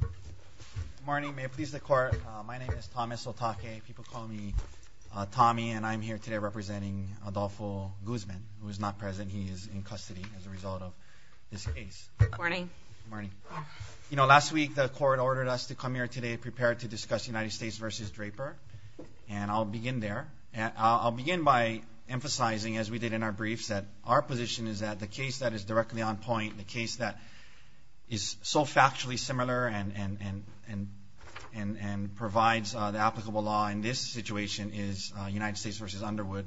Good morning, may it please the court. My name is Thomas Otake. People call me Tommy and I'm here today representing Adolfo Guzman, who is not present. He is in custody as a result of this case. Good morning. You know, last week the court ordered us to come here today prepared to discuss United States v. Draper and I'll begin there. I'll begin by emphasizing, as we did in our briefs, that our position is that the case that is directly on point, the case that is so factually similar and provides the applicable law in this situation is United States v. Underwood,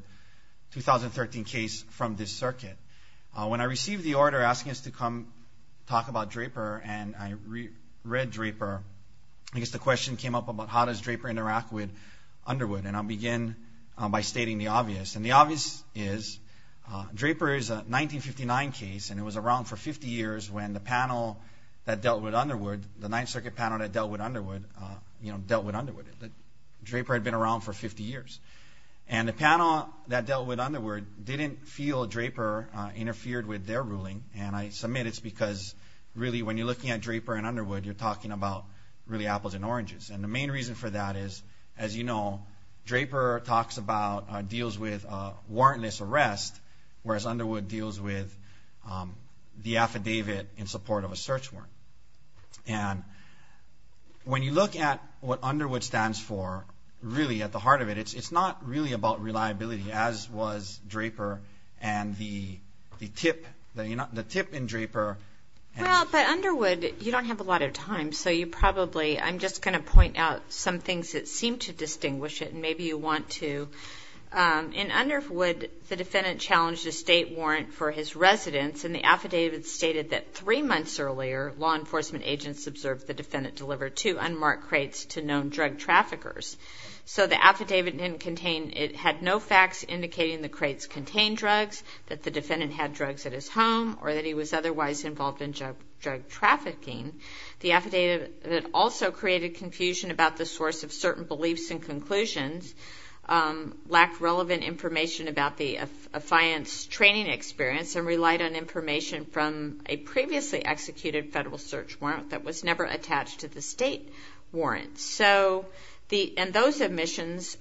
2013 case from this circuit. When I received the order asking us to come talk about Draper and I read Draper, I guess the question came up about how does Draper interact with Underwood and I'll begin by stating the obvious and the obvious is Draper is a 1959 case and it was around for 50 years when the panel that dealt with Underwood, the Ninth Circuit panel that dealt with Underwood, you know, dealt with Underwood. Draper had been around for 50 years and the panel that dealt with Underwood didn't feel Draper interfered with their ruling and I submit it's because really when you're looking at Draper and Underwood you're talking about really apples and oranges and the main reason for that is, as you know, Draper talks about, deals with warrantless arrest whereas Underwood deals with the affidavit in support of a search warrant and when you look at what Underwood stands for really at the heart of it it's it's not really about reliability as was Draper and the tip the tip in Draper. Well but Underwood, you don't have a lot of time so you probably, I'm just going to point out some things that seem to distinguish it and maybe you want to. In Underwood the defendant challenged a state warrant for his residence and the affidavit stated that three months earlier law enforcement agents observed the defendant deliver two unmarked crates to known drug traffickers. So the affidavit didn't contain, it had no facts indicating the crates contain drugs, that the defendant had drugs at his home or that he was otherwise involved in drug trafficking. The affidavit also created confusion about the source of certain beliefs and conclusions, lacked relevant information about the affiance training experience and relied on information from a previously executed federal search warrant that was never attached to the state warrant. So those omissions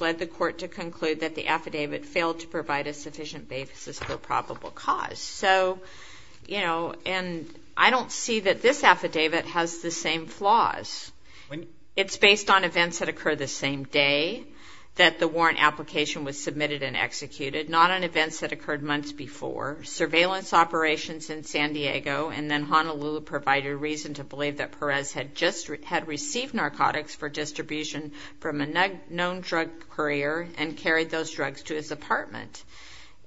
led the court to conclude that the affidavit failed to provide a sufficient basis for probable cause. So, you know, and I don't see that this affidavit has the same flaws. It's based on events that occur the same day that the warrant application was submitted and executed, not on events that occurred months before. Surveillance operations in San Diego and then Honolulu provided reason to believe that Perez had just had received narcotics for distribution from a known drug courier and carried those drugs to his apartment.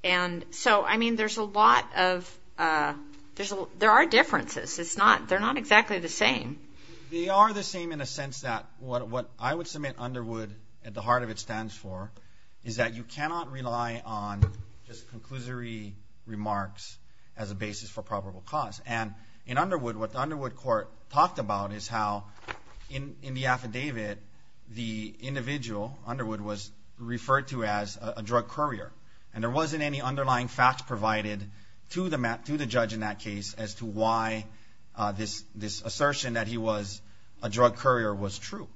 And so, I mean, there's a lot of, there are differences, it's not, they're not exactly the same. They are the same in a sense that what I would submit Underwood, at the heart of it, stands for is that you cannot rely on just conclusory remarks as a basis for probable cause. And in Underwood, what the Underwood court talked about is how in the affidavit the individual, Underwood, was referred to as a drug courier. And there wasn't any underlying facts provided to the judge in that case as to why this assertion that he was a drug courier was true.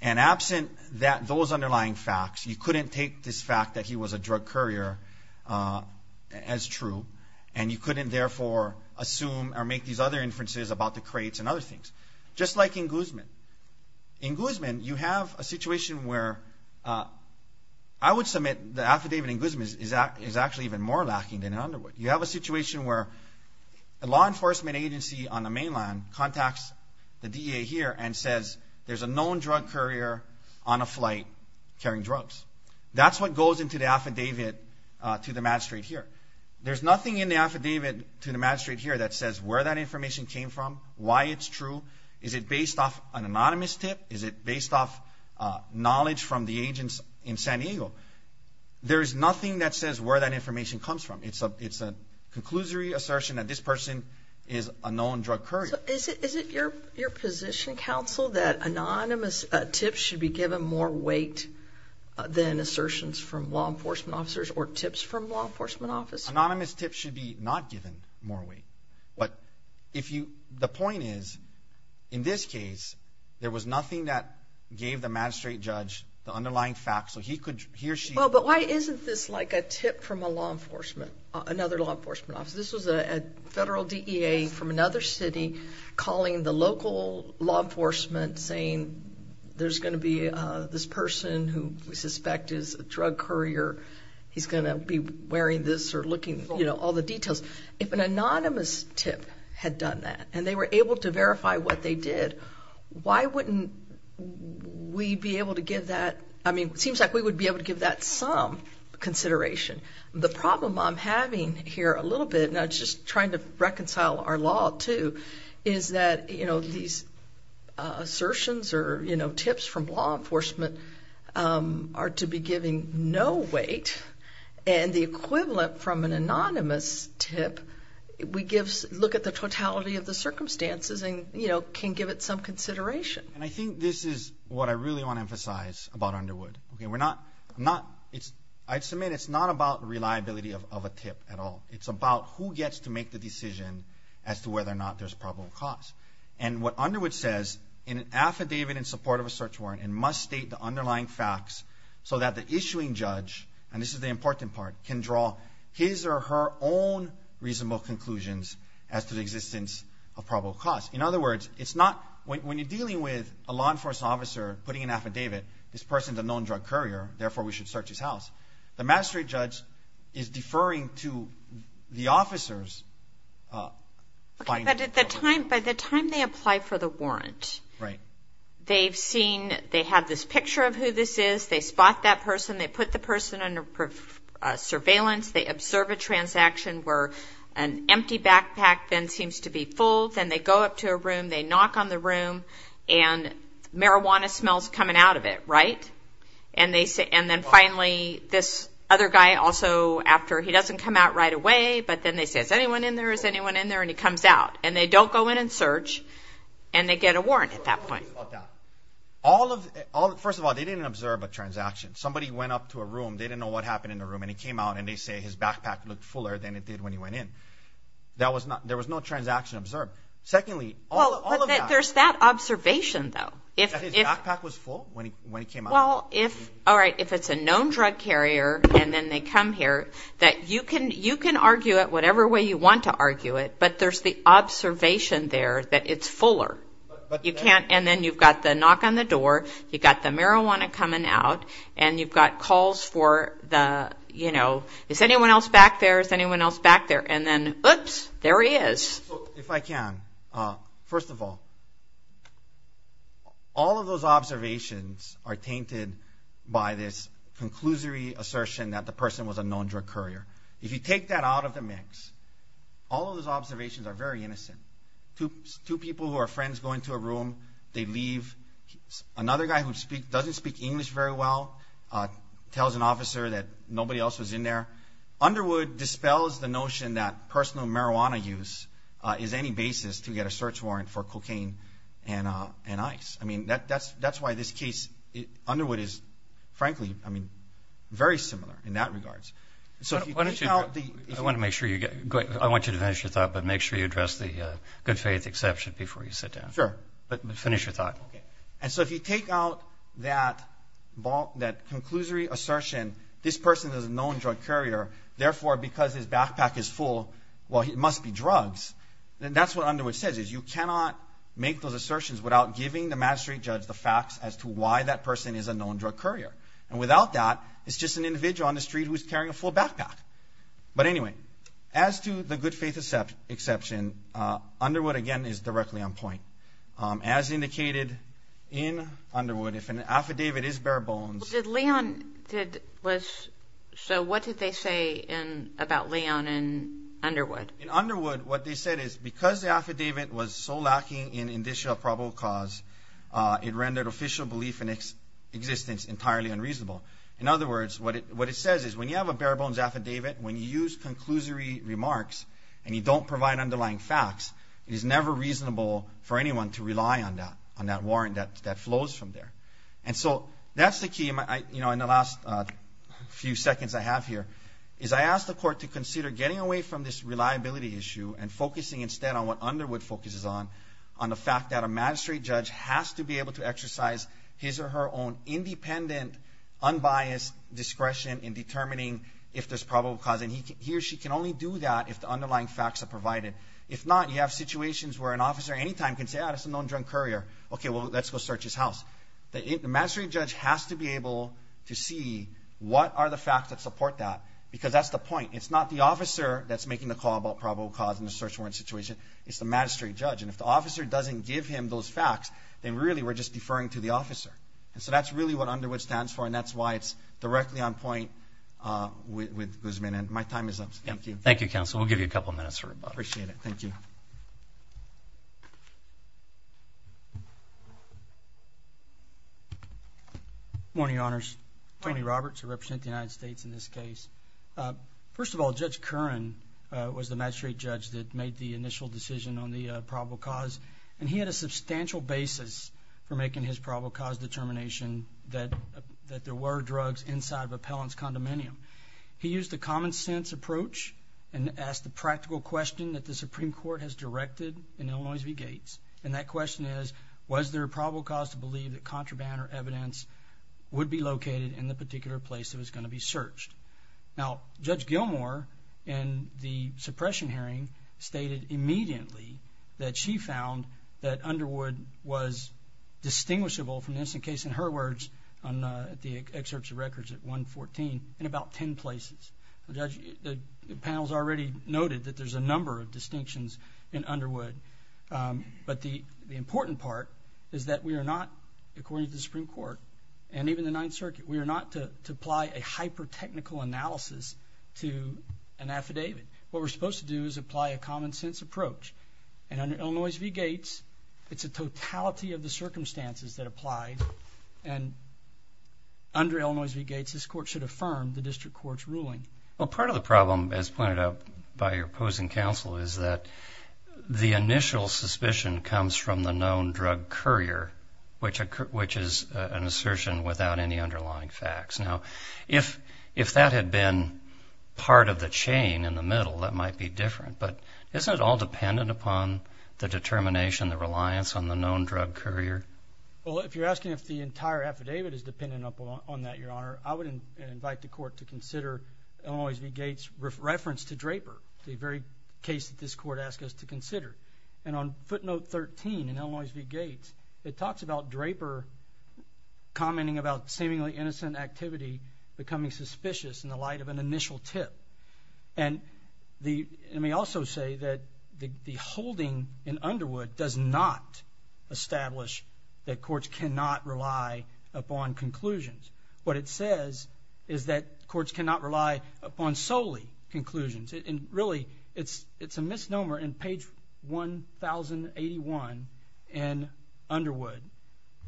And absent those underlying facts, you couldn't take this fact that he was a drug courier as true, and you couldn't therefore assume or make these other inferences about the crates and other things. Just like in Guzman. In Guzman, you have a situation where, I would submit the affidavit in Guzman is actually even more lacking than in Underwood. You have a situation where a law enforcement agency on the mainland contacts the DEA here and says there's a known drug courier on a flight carrying drugs. That's what goes into the affidavit to the magistrate here. There's nothing in the affidavit to the magistrate here that says where that information came from, why it's true, is it based off an anonymous tip, is it based off knowledge from the agents in San Diego. There is nothing that says where that information comes from. It's a conclusory assertion that this person is a known drug courier. Is it your position, counsel, that anonymous tips should be given more weight than assertions from law enforcement officers or tips from law enforcement officers? Anonymous tips should be not given more weight. But if you, the point is, in this case, there was nothing that gave the magistrate judge the underlying facts so he could, he or she. But why isn't this like a tip from a law enforcement, another law enforcement officer? This was a federal DEA from another city calling the local law enforcement saying there's going to be this person who we suspect is a drug courier, he's going to be wearing this or looking, you know, all the details. If an anonymous tip had done that and they were able to verify what they did, why wouldn't we be able to give that, I mean, it seems like we would be able to give that some consideration. The problem I'm having here a little bit, and I'm just trying to reconcile our law too, is that, you know, these assertions or, you know, tips from law enforcement are to be given no weight. And the equivalent from an anonymous tip, we give, look at the totality of the circumstances and, you know, can give it some consideration. And I think this is what I really want to emphasize about Underwood. Okay, we're not, not, it's, I'd submit it's not about reliability of a tip at all. It's about who gets to make the decision as to whether or not there's probable cause. And what Underwood says in an affidavit in support of a search warrant, it must state the underlying facts so that the issuing judge, and this is the important part, can draw his or her own reasonable conclusions as to the existence of probable cause. In other words, it's not, when you're dealing with a law enforcement officer putting an affidavit, this person's a known drug courier, therefore we should search his house. The magistrate judge is deferring to the officer's... Okay, but at the time, by the time they apply for the warrant, right, they've seen, they have this picture of who this is, they spot that person, they put the person under surveillance, they observe a transaction where an empty backpack then seems to be full, then they go up to a room, they knock on the room, and marijuana smells coming out of it, right? And they say, and then finally this other guy also, after he doesn't come out right away, but then they say, is anyone in there? Is anyone in there? And he comes out. And they don't go in and search, and they get a warrant at that point. First of all, they didn't observe a transaction. Somebody went up to a room, they didn't know what happened in the room, and he came out and they say his backpack looked fuller than it did when he went in. That was not, there was no transaction observed. Secondly, there's that observation though. His backpack was full when he came out? Well, if, all right, if it's a known drug carrier, and then they come here, that you can, you can argue it whatever way you want to argue it, but there's the observation there that it's fuller. You can't, and then you've got the knock on the door, you got the marijuana coming out, and you've got calls for the, you know, is anyone else back there? Is anyone else in there? You can. First of all, all of those observations are tainted by this conclusory assertion that the person was a known drug courier. If you take that out of the mix, all of those observations are very innocent. Two people who are friends go into a room, they leave. Another guy who doesn't speak English very well tells an officer that nobody else was in there. Underwood dispels the notion that personal marijuana use is any basis to get a search warrant for cocaine and ice. I mean, that's why this case, Underwood is frankly, I mean, very similar in that regards. So why don't you I want to make sure you get, I want you to finish your thought, but make sure you address the good faith exception before you sit down. Sure. But finish your thought. Okay. And so if you take out that ball, that conclusory assertion, this because his backpack is full, well, it must be drugs, then that's what Underwood says, is you cannot make those assertions without giving the magistrate judge the facts as to why that person is a known drug courier. And without that, it's just an individual on the street who's carrying a full backpack. But anyway, as to the good faith exception, Underwood, again, is directly on point. As indicated in Underwood, if an affidavit is bare bones... Did Leon, did, was, so what did they say in, about Leon and Underwood? In Underwood, what they said is, because the affidavit was so lacking in indicial probable cause, it rendered official belief in existence entirely unreasonable. In other words, what it, what it says is, when you have a bare bones affidavit, when you use conclusory remarks, and you don't provide underlying facts, it is never reasonable for anyone to rely on that, on that warrant that flows from there. And so that's the key, you know, in the last few seconds I have here, is I asked the court to consider getting away from this reliability issue and focusing instead on what Underwood focuses on, on the fact that a magistrate judge has to be able to exercise his or her own independent, unbiased discretion in determining if there's probable cause. And he or she can only do that if the underlying facts are provided. If not, you have situations where an officer anytime can say, ah, that's a known drug courier. Okay, well, let's go search his house. The magistrate judge has to be able to see what are the facts that support that, because that's the point. It's not the officer that's making the call about probable cause in the search warrant situation, it's the magistrate judge. And if the officer doesn't give him those facts, then really we're just deferring to the officer. And so that's really what Underwood stands for, and that's why it's directly on point with Guzman. And my time is up. Thank you. Thank you, counsel. We'll give you a couple minutes for appreciate it. Thank you. Morning, honors. Tony Roberts, who represent the United States in this case. Uh, first of all, Judge Curran was the magistrate judge that made the initial decision on the probable cause, and he had a substantial basis for making his probable cause determination that that there were drugs inside of appellant's condominium. He used the common sense approach and asked the question that the Supreme Court has directed in Illinois v Gates. And that question is, was there a probable cause to believe that contraband or evidence would be located in the particular place that was going to be searched? Now, Judge Gilmore and the suppression hearing stated immediately that she found that Underwood was distinguishable from this in case in her words on the excerpts of records at 1 14 in about 10 places. The panel's already noted that there's a number of distinctions in Underwood. Um, but the important part is that we're not, according to the Supreme Court and even the Ninth Circuit, we're not to apply a hyper technical analysis to an affidavit. What we're supposed to do is apply a common sense approach. And under Illinois v Gates, it's a totality of the circumstances that applied. And under Illinois v Gates, this court should affirm the district court's Well, part of the problem is pointed out by your opposing counsel is that the initial suspicion comes from the known drug courier, which which is an assertion without any underlying facts. Now, if if that had been part of the chain in the middle, that might be different. But isn't it all dependent upon the determination, the reliance on the known drug courier? Well, if you're asking if the entire affidavit is dependent upon that, Your Honor, I always be Gates reference to Draper, the very case that this court asked us to consider. And on footnote 13 in Illinois v Gates, it talks about Draper commenting about seemingly innocent activity, becoming suspicious in the light of an initial tip. And the may also say that the holding in Underwood does not establish that courts cannot rely upon conclusions. What it says is that courts cannot rely upon solely conclusions. And really, it's it's a misnomer in page 1081 and Underwood.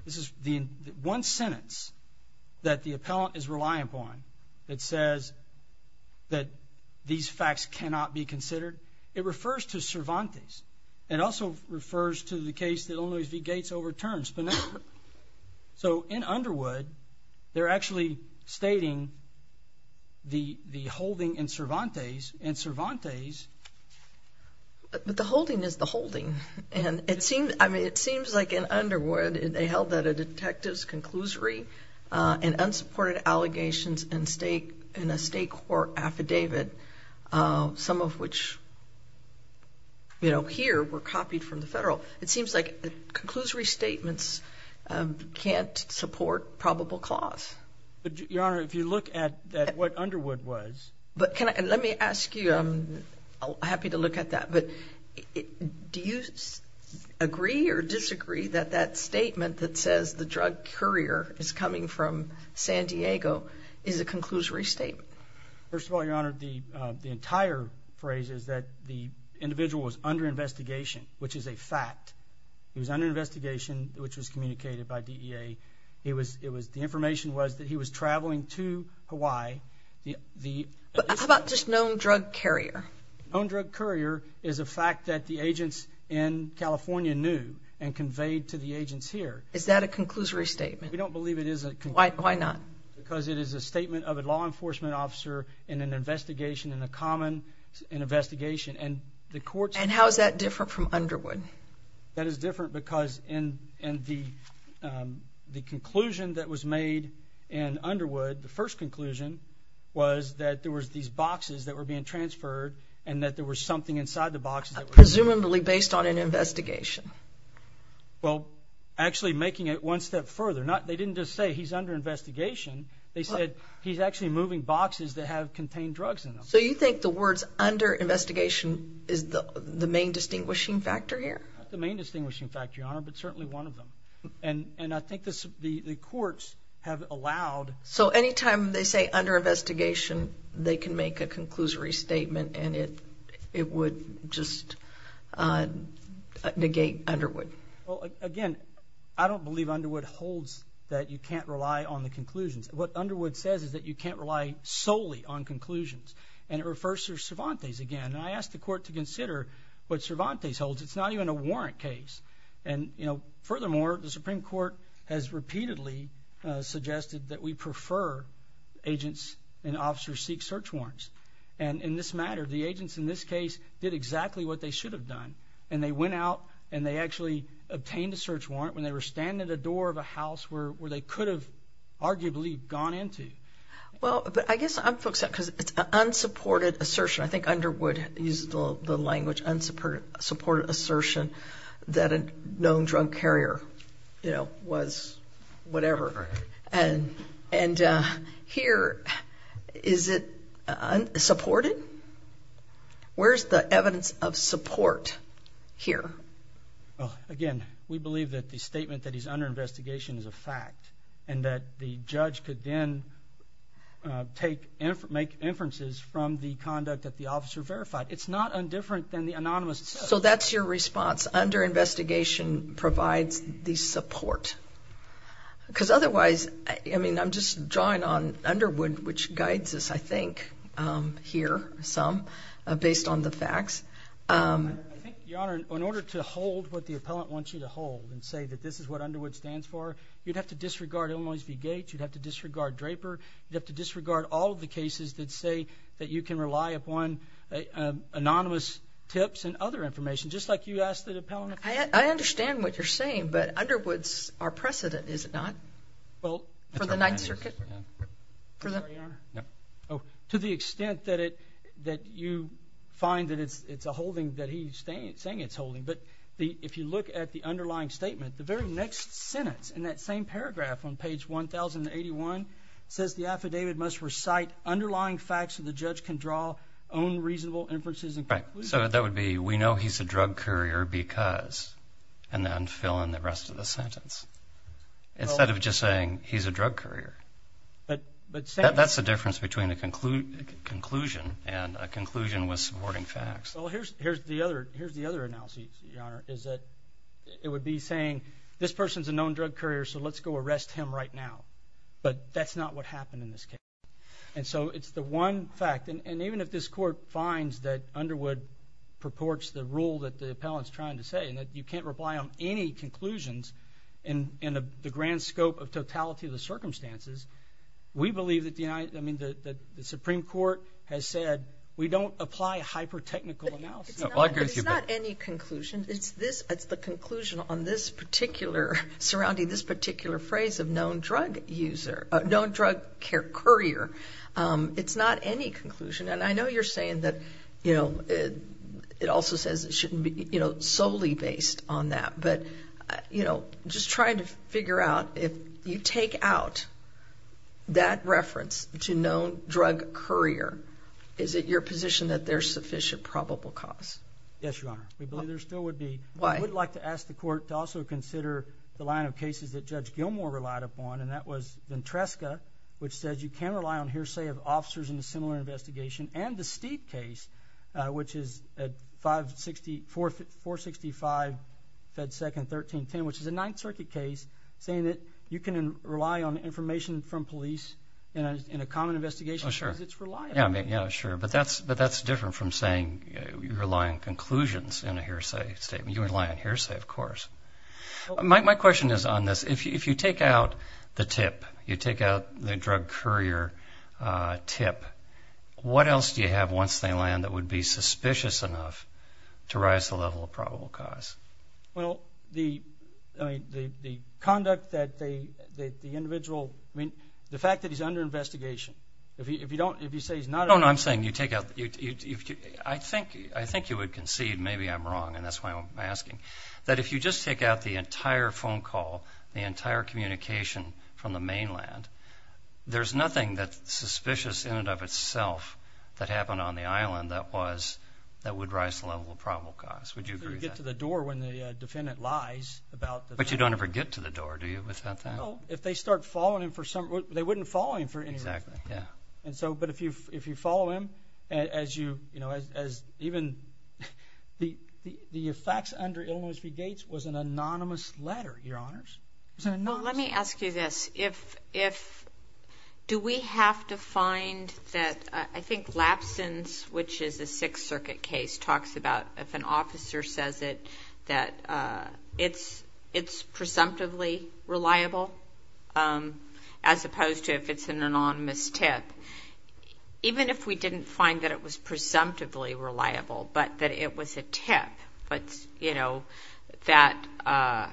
This is the one sentence that the appellant is reliant upon. It says that these facts cannot be considered. It refers to Cervantes. It also refers to the case that only the Gates overturns enough. So in Underwood, they're actually stating the holding in Cervantes and Cervantes. But the holding is the holding. And it seems I mean, it seems like in Underwood, they held that a detective's conclusory and unsupported allegations and stake in a state court affidavit, some of which, you know, here were copied from the federal. It seems like a conclusory statements can't support probable cause. Your Honor, if you look at what Underwood was, but let me ask you, I'm happy to look at that. But do you agree or disagree that that statement that says the drug courier is coming from San Diego is a conclusory statement? First of all, your honor, the entire phrase is that the individual was under investigation, which is a fact. He was under investigation, which was communicated by D. E. A. It was. It was. The information was that he was traveling to Hawaii. The how about just known drug carrier? Own drug courier is a fact that the agents in California knew and conveyed to the agents here. Is that a conclusory statement? We don't believe it is. Why not? Because it is a statement of a law enforcement officer in an investigation in the common in investigation and the court. And how is that different from Underwood? That is different because in in the the conclusion that was made in Underwood, the first conclusion was that there was these boxes that were being transferred and that there was something inside the boxes, presumably based on an investigation. Well, actually making it one step further, not they didn't just say he's under investigation. They said he's actually moving boxes that have contained drugs. So you think the words under investigation is the main distinguishing factor here? The main distinguishing factor, Your Honor, but certainly one of them. And and I think this the courts have allowed. So anytime they say under investigation, they can make a conclusory statement and it it would just, uh, negate Underwood again. I don't believe Underwood holds that you can't rely on the conclusions. What Underwood says is that you can't rely solely on conclusions. And it refers to Cervantes again. I asked the court to consider what Cervantes holds. It's not even a warrant case. And, you know, furthermore, the Supreme Court has repeatedly suggested that we prefer agents and officers seek search warrants. And in this matter, the agents in this case did exactly what they should have done. And they went out and they actually obtained a search warrant when they were standing at the door of a house where they could have arguably gone into. Well, I guess I'm folks out because it's unsupported assertion. I think Underwood used the language unsupported assertion that a known drug carrier, you know, was whatever. And and here is it supported? Where's the evidence of support here? Well, again, we believe that the and that the judge could then take and make inferences from the conduct that the officer verified. It's not a different than the anonymous. So that's your response under investigation provides the support because otherwise, I mean, I'm just drawing on Underwood, which guides us, I think, um, here some based on the facts. Um, I think, Your Honor, in order to hold what the appellant wants you to hold and say that this is what Underwood stands for, you'd have to disregard Illinois v. Gates. You'd have to disregard Draper. You have to disregard all the cases that say that you can rely upon anonymous tips and other information, just like you asked the appellant. I understand what you're saying. But Underwood's our precedent, is it not? Well, for the Ninth Circuit, for the Oh, to the extent that it that you find that it's it's a holding that he's saying it's saying it's holding. But if you look at the underlying statement, the very next sentence in that same paragraph on page 1081 says the affidavit must recite underlying facts of the judge can draw own reasonable inferences. And so that would be we know he's a drug courier because and then fill in the rest of the sentence instead of just saying he's a drug courier. But that's the difference between the conclude conclusion and a conclusion was supporting facts. Well, here's here's the other. Here's the other analysis is that it would be saying this person's a known drug courier. So let's go arrest him right now. But that's not what happened in this case. And so it's the one fact. And even if this court finds that Underwood purports the rule that the appellant's trying to say and that you can't reply on any conclusions in the grand scope of totality of the circumstances, we believe that the United I mean, the Supreme Court has said we don't apply hyper technical analysis. It's not any conclusion. It's this. It's the conclusion on this particular surrounding this particular phrase of known drug user known drug care courier. Um, it's not any conclusion. And I know you're saying that, you know, it also says it shouldn't be, you know, solely based on that. But, you know, just trying to is it your position that there's sufficient probable cause? Yes, Your Honor. We believe there still would be. I would like to ask the court to also consider the line of cases that Judge Gilmore relied upon, and that was Ventresca, which says you can rely on hearsay of officers in a similar investigation and the steep case, which is at 5 64 4 65 Fed second 13 10, which is a Ninth Circuit case, saying that you can rely on information from in a common investigation. Sure, it's reliable. Yeah, sure. But that's but that's different from saying you're lying conclusions in a hearsay statement. You rely on hearsay, of course. My question is on this. If you take out the tip, you take out the drug courier tip. What else do you have once they land that would be suspicious enough to rise the level of probable cause? Well, the conduct that the individual mean the fact that he's under investigation. If you don't, if you say he's not, I'm saying you take out. I think I think you would concede. Maybe I'm wrong, and that's why I'm asking that. If you just take out the entire phone call, the entire communication from the mainland, there's nothing that suspicious in and of itself that happened on the island. That was that would rise to level probable cause. Would you get to the door when the defendant lies about? But you don't ever get to the door, do you? Without that, if they start following him for some, they wouldn't follow him for exactly. Yeah. And so, but if you if you follow him as you, you know, as even the the effects under illness be gates was an anonymous letter. Your honors, let me ask you this. If if do we have to find that? I think lapses, which is a Sixth Circuit case, talks about if an officer says it that it's it's presumptively reliable, um, as opposed to if it's an anonymous tip, even if we didn't find that it was presumptively reliable, but that it was a tip. But, you know, that, uh,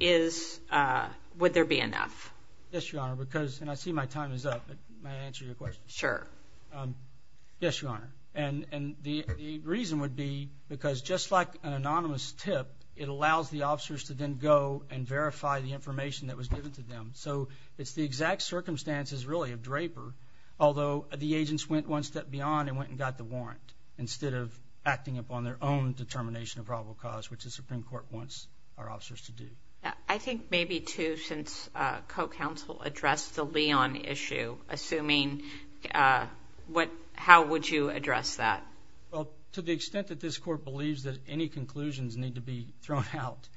is, uh, would there be enough? Yes, Your Honor, because I see my time is up. My answer sure. Um, yes, Your Honor. And and the reason would be because just like an anonymous tip, it allows the officers to then go and verify the information that was given to them. So it's the exact circumstances really of Draper. Although the agents went one step beyond and went and got the warrant instead of acting upon their own determination of probable cause, which the Supreme Court wants our officers to do. I think maybe two since co counsel addressed the Leon issue. Assuming, uh, what? How would you address that? Well, to the extent that this court believes that any conclusions need to be thrown out,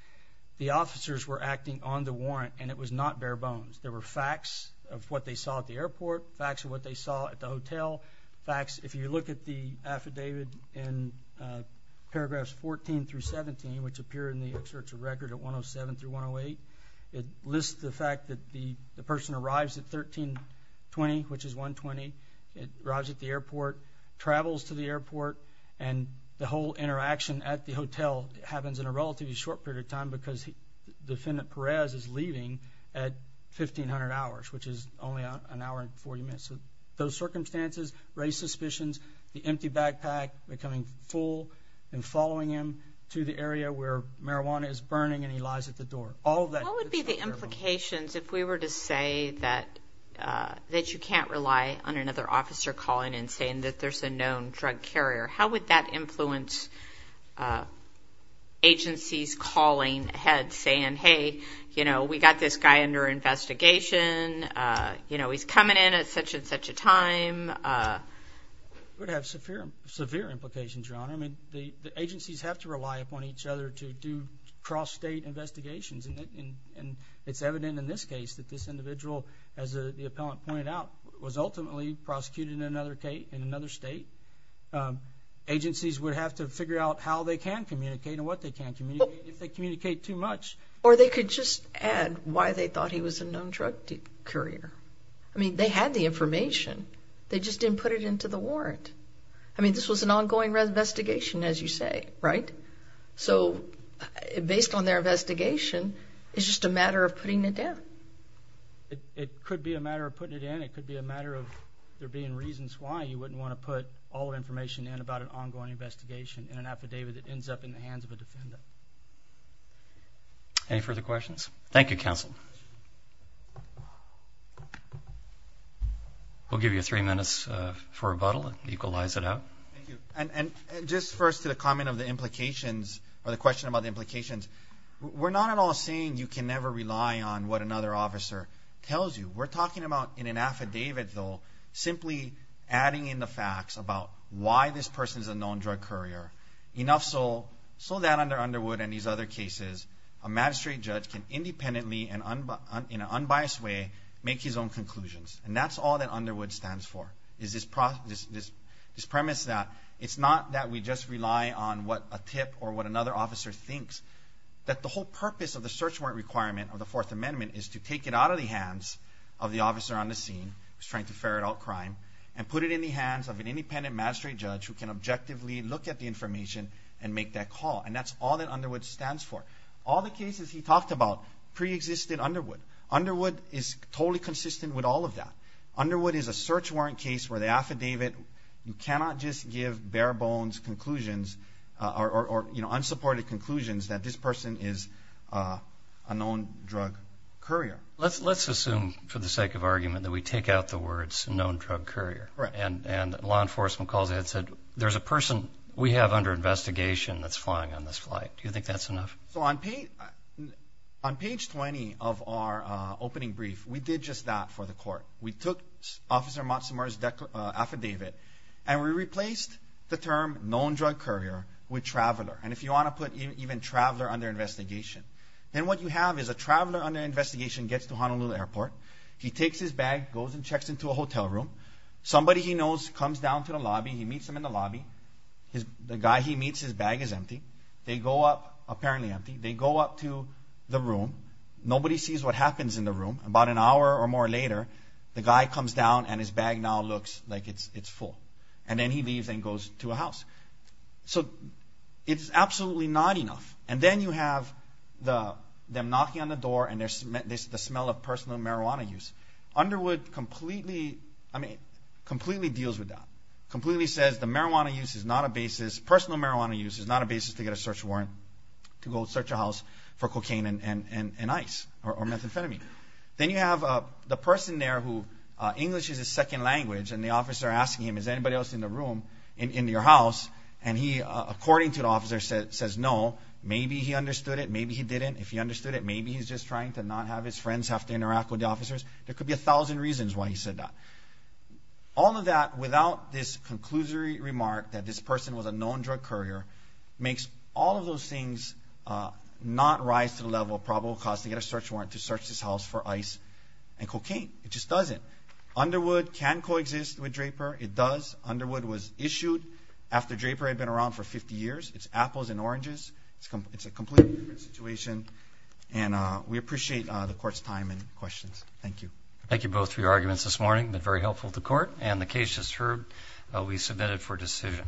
the officers were acting on the warrant, and it was not bare bones. There were facts of what they saw at the airport, facts of what they saw at the hotel facts. If you look at the affidavit in paragraphs 14 through 17, which appeared in the search of record at 107 through 108, it lists the fact that the person arrives at 13 20, which is 1 20. It arrives at the airport, travels to the airport, and the whole interaction at the hotel happens in a relatively short period of time because he defendant Perez is leaving at 1500 hours, which is only an hour and 40 minutes. So those circumstances raise suspicions. The empty backpack becoming full and following him to the area where marijuana is burning and he all that would be the implications if we were to say that, uh, that you can't rely on another officer calling and saying that there's a known drug carrier. How would that influence, uh, agencies calling head saying, Hey, you know, we got this guy under investigation. Uh, you know, he's coming in at such and such a time, uh, would have severe, severe implications. Your honor. I mean, the agencies have to rely upon each other to do cross state investigations, and it's evident in this case that this individual, as the appellant pointed out, was ultimately prosecuted in another state in another state. Um, agencies would have to figure out how they can communicate and what they can't communicate if they communicate too much, or they could just add why they thought he was a known drug courier. I mean, they had the information. They just didn't put it into the warrant. I mean, this was an ongoing investigation, as you say, right? So based on their investigation, it's just a matter of putting it down. It could be a matter of putting it in. It could be a matter of there being reasons why you wouldn't want to put all the information in about an ongoing investigation in an affidavit that ends up in the hands of a defendant. Any further questions? Thank you, Counsel. We'll give you three minutes for rebuttal. Equalize it out. And just first to the comment of the implications or the question about the we're not at all saying you can never rely on what another officer tells you. We're talking about in an affidavit, though, simply adding in the facts about why this person is a known drug courier. Enough so so that under Underwood and these other cases, a magistrate judge can independently and in an unbiased way make his own conclusions. And that's all that Underwood stands for. Is this this premise that it's not that we just rely on what a tip or what another officer thinks that the whole purpose of the search warrant requirement of the Fourth Amendment is to take it out of the hands of the officer on the scene was trying to ferret out crime and put it in the hands of an independent magistrate judge who can objectively look at the information and make that call. And that's all that Underwood stands for. All the cases he talked about preexisted Underwood. Underwood is totally consistent with all of that. Underwood is a search warrant case where the affidavit you cannot just give bare conclusions or unsupported conclusions that this person is a known drug courier. Let's assume for the sake of argument that we take out the words known drug courier and law enforcement calls. It said there's a person we have under investigation that's flying on this flight. Do you think that's enough? So on on page 20 of our opening brief, we did just that for the court. We took Officer Motsamar's affidavit and we put known drug courier with traveler. And if you want to put even traveler under investigation, then what you have is a traveler under investigation gets to Honolulu Airport. He takes his bag, goes and checks into a hotel room. Somebody he knows comes down to the lobby. He meets him in the lobby. The guy he meets, his bag is empty. They go up, apparently empty. They go up to the room. Nobody sees what happens in the room. About an hour or more later, the guy comes down and his bag now looks like it's full. And then he leaves and goes to a house. So it's absolutely not enough. And then you have the them knocking on the door and there's the smell of personal marijuana use. Underwood completely, I mean, completely deals with that. Completely says the marijuana use is not a basis. Personal marijuana use is not a basis to get a search warrant to go search a house for cocaine and ice or methamphetamine. Then you have the person there who English is his second language and the officer asking him, is anybody else in the house? And he, according to the officer, says no. Maybe he understood it. Maybe he didn't. If he understood it, maybe he's just trying to not have his friends have to interact with the officers. There could be a thousand reasons why he said that. All of that, without this conclusory remark that this person was a known drug courier, makes all of those things not rise to the level of probable cause to get a search warrant to go search a house. Underwood can coexist with Draper. It does. Underwood was issued after Draper had been around for 50 years. It's apples and oranges. It's a completely different situation. And we appreciate the court's time and questions. Thank you. Thank you both for your arguments this morning. They're very helpful to court. And the case just heard will be submitted for decision.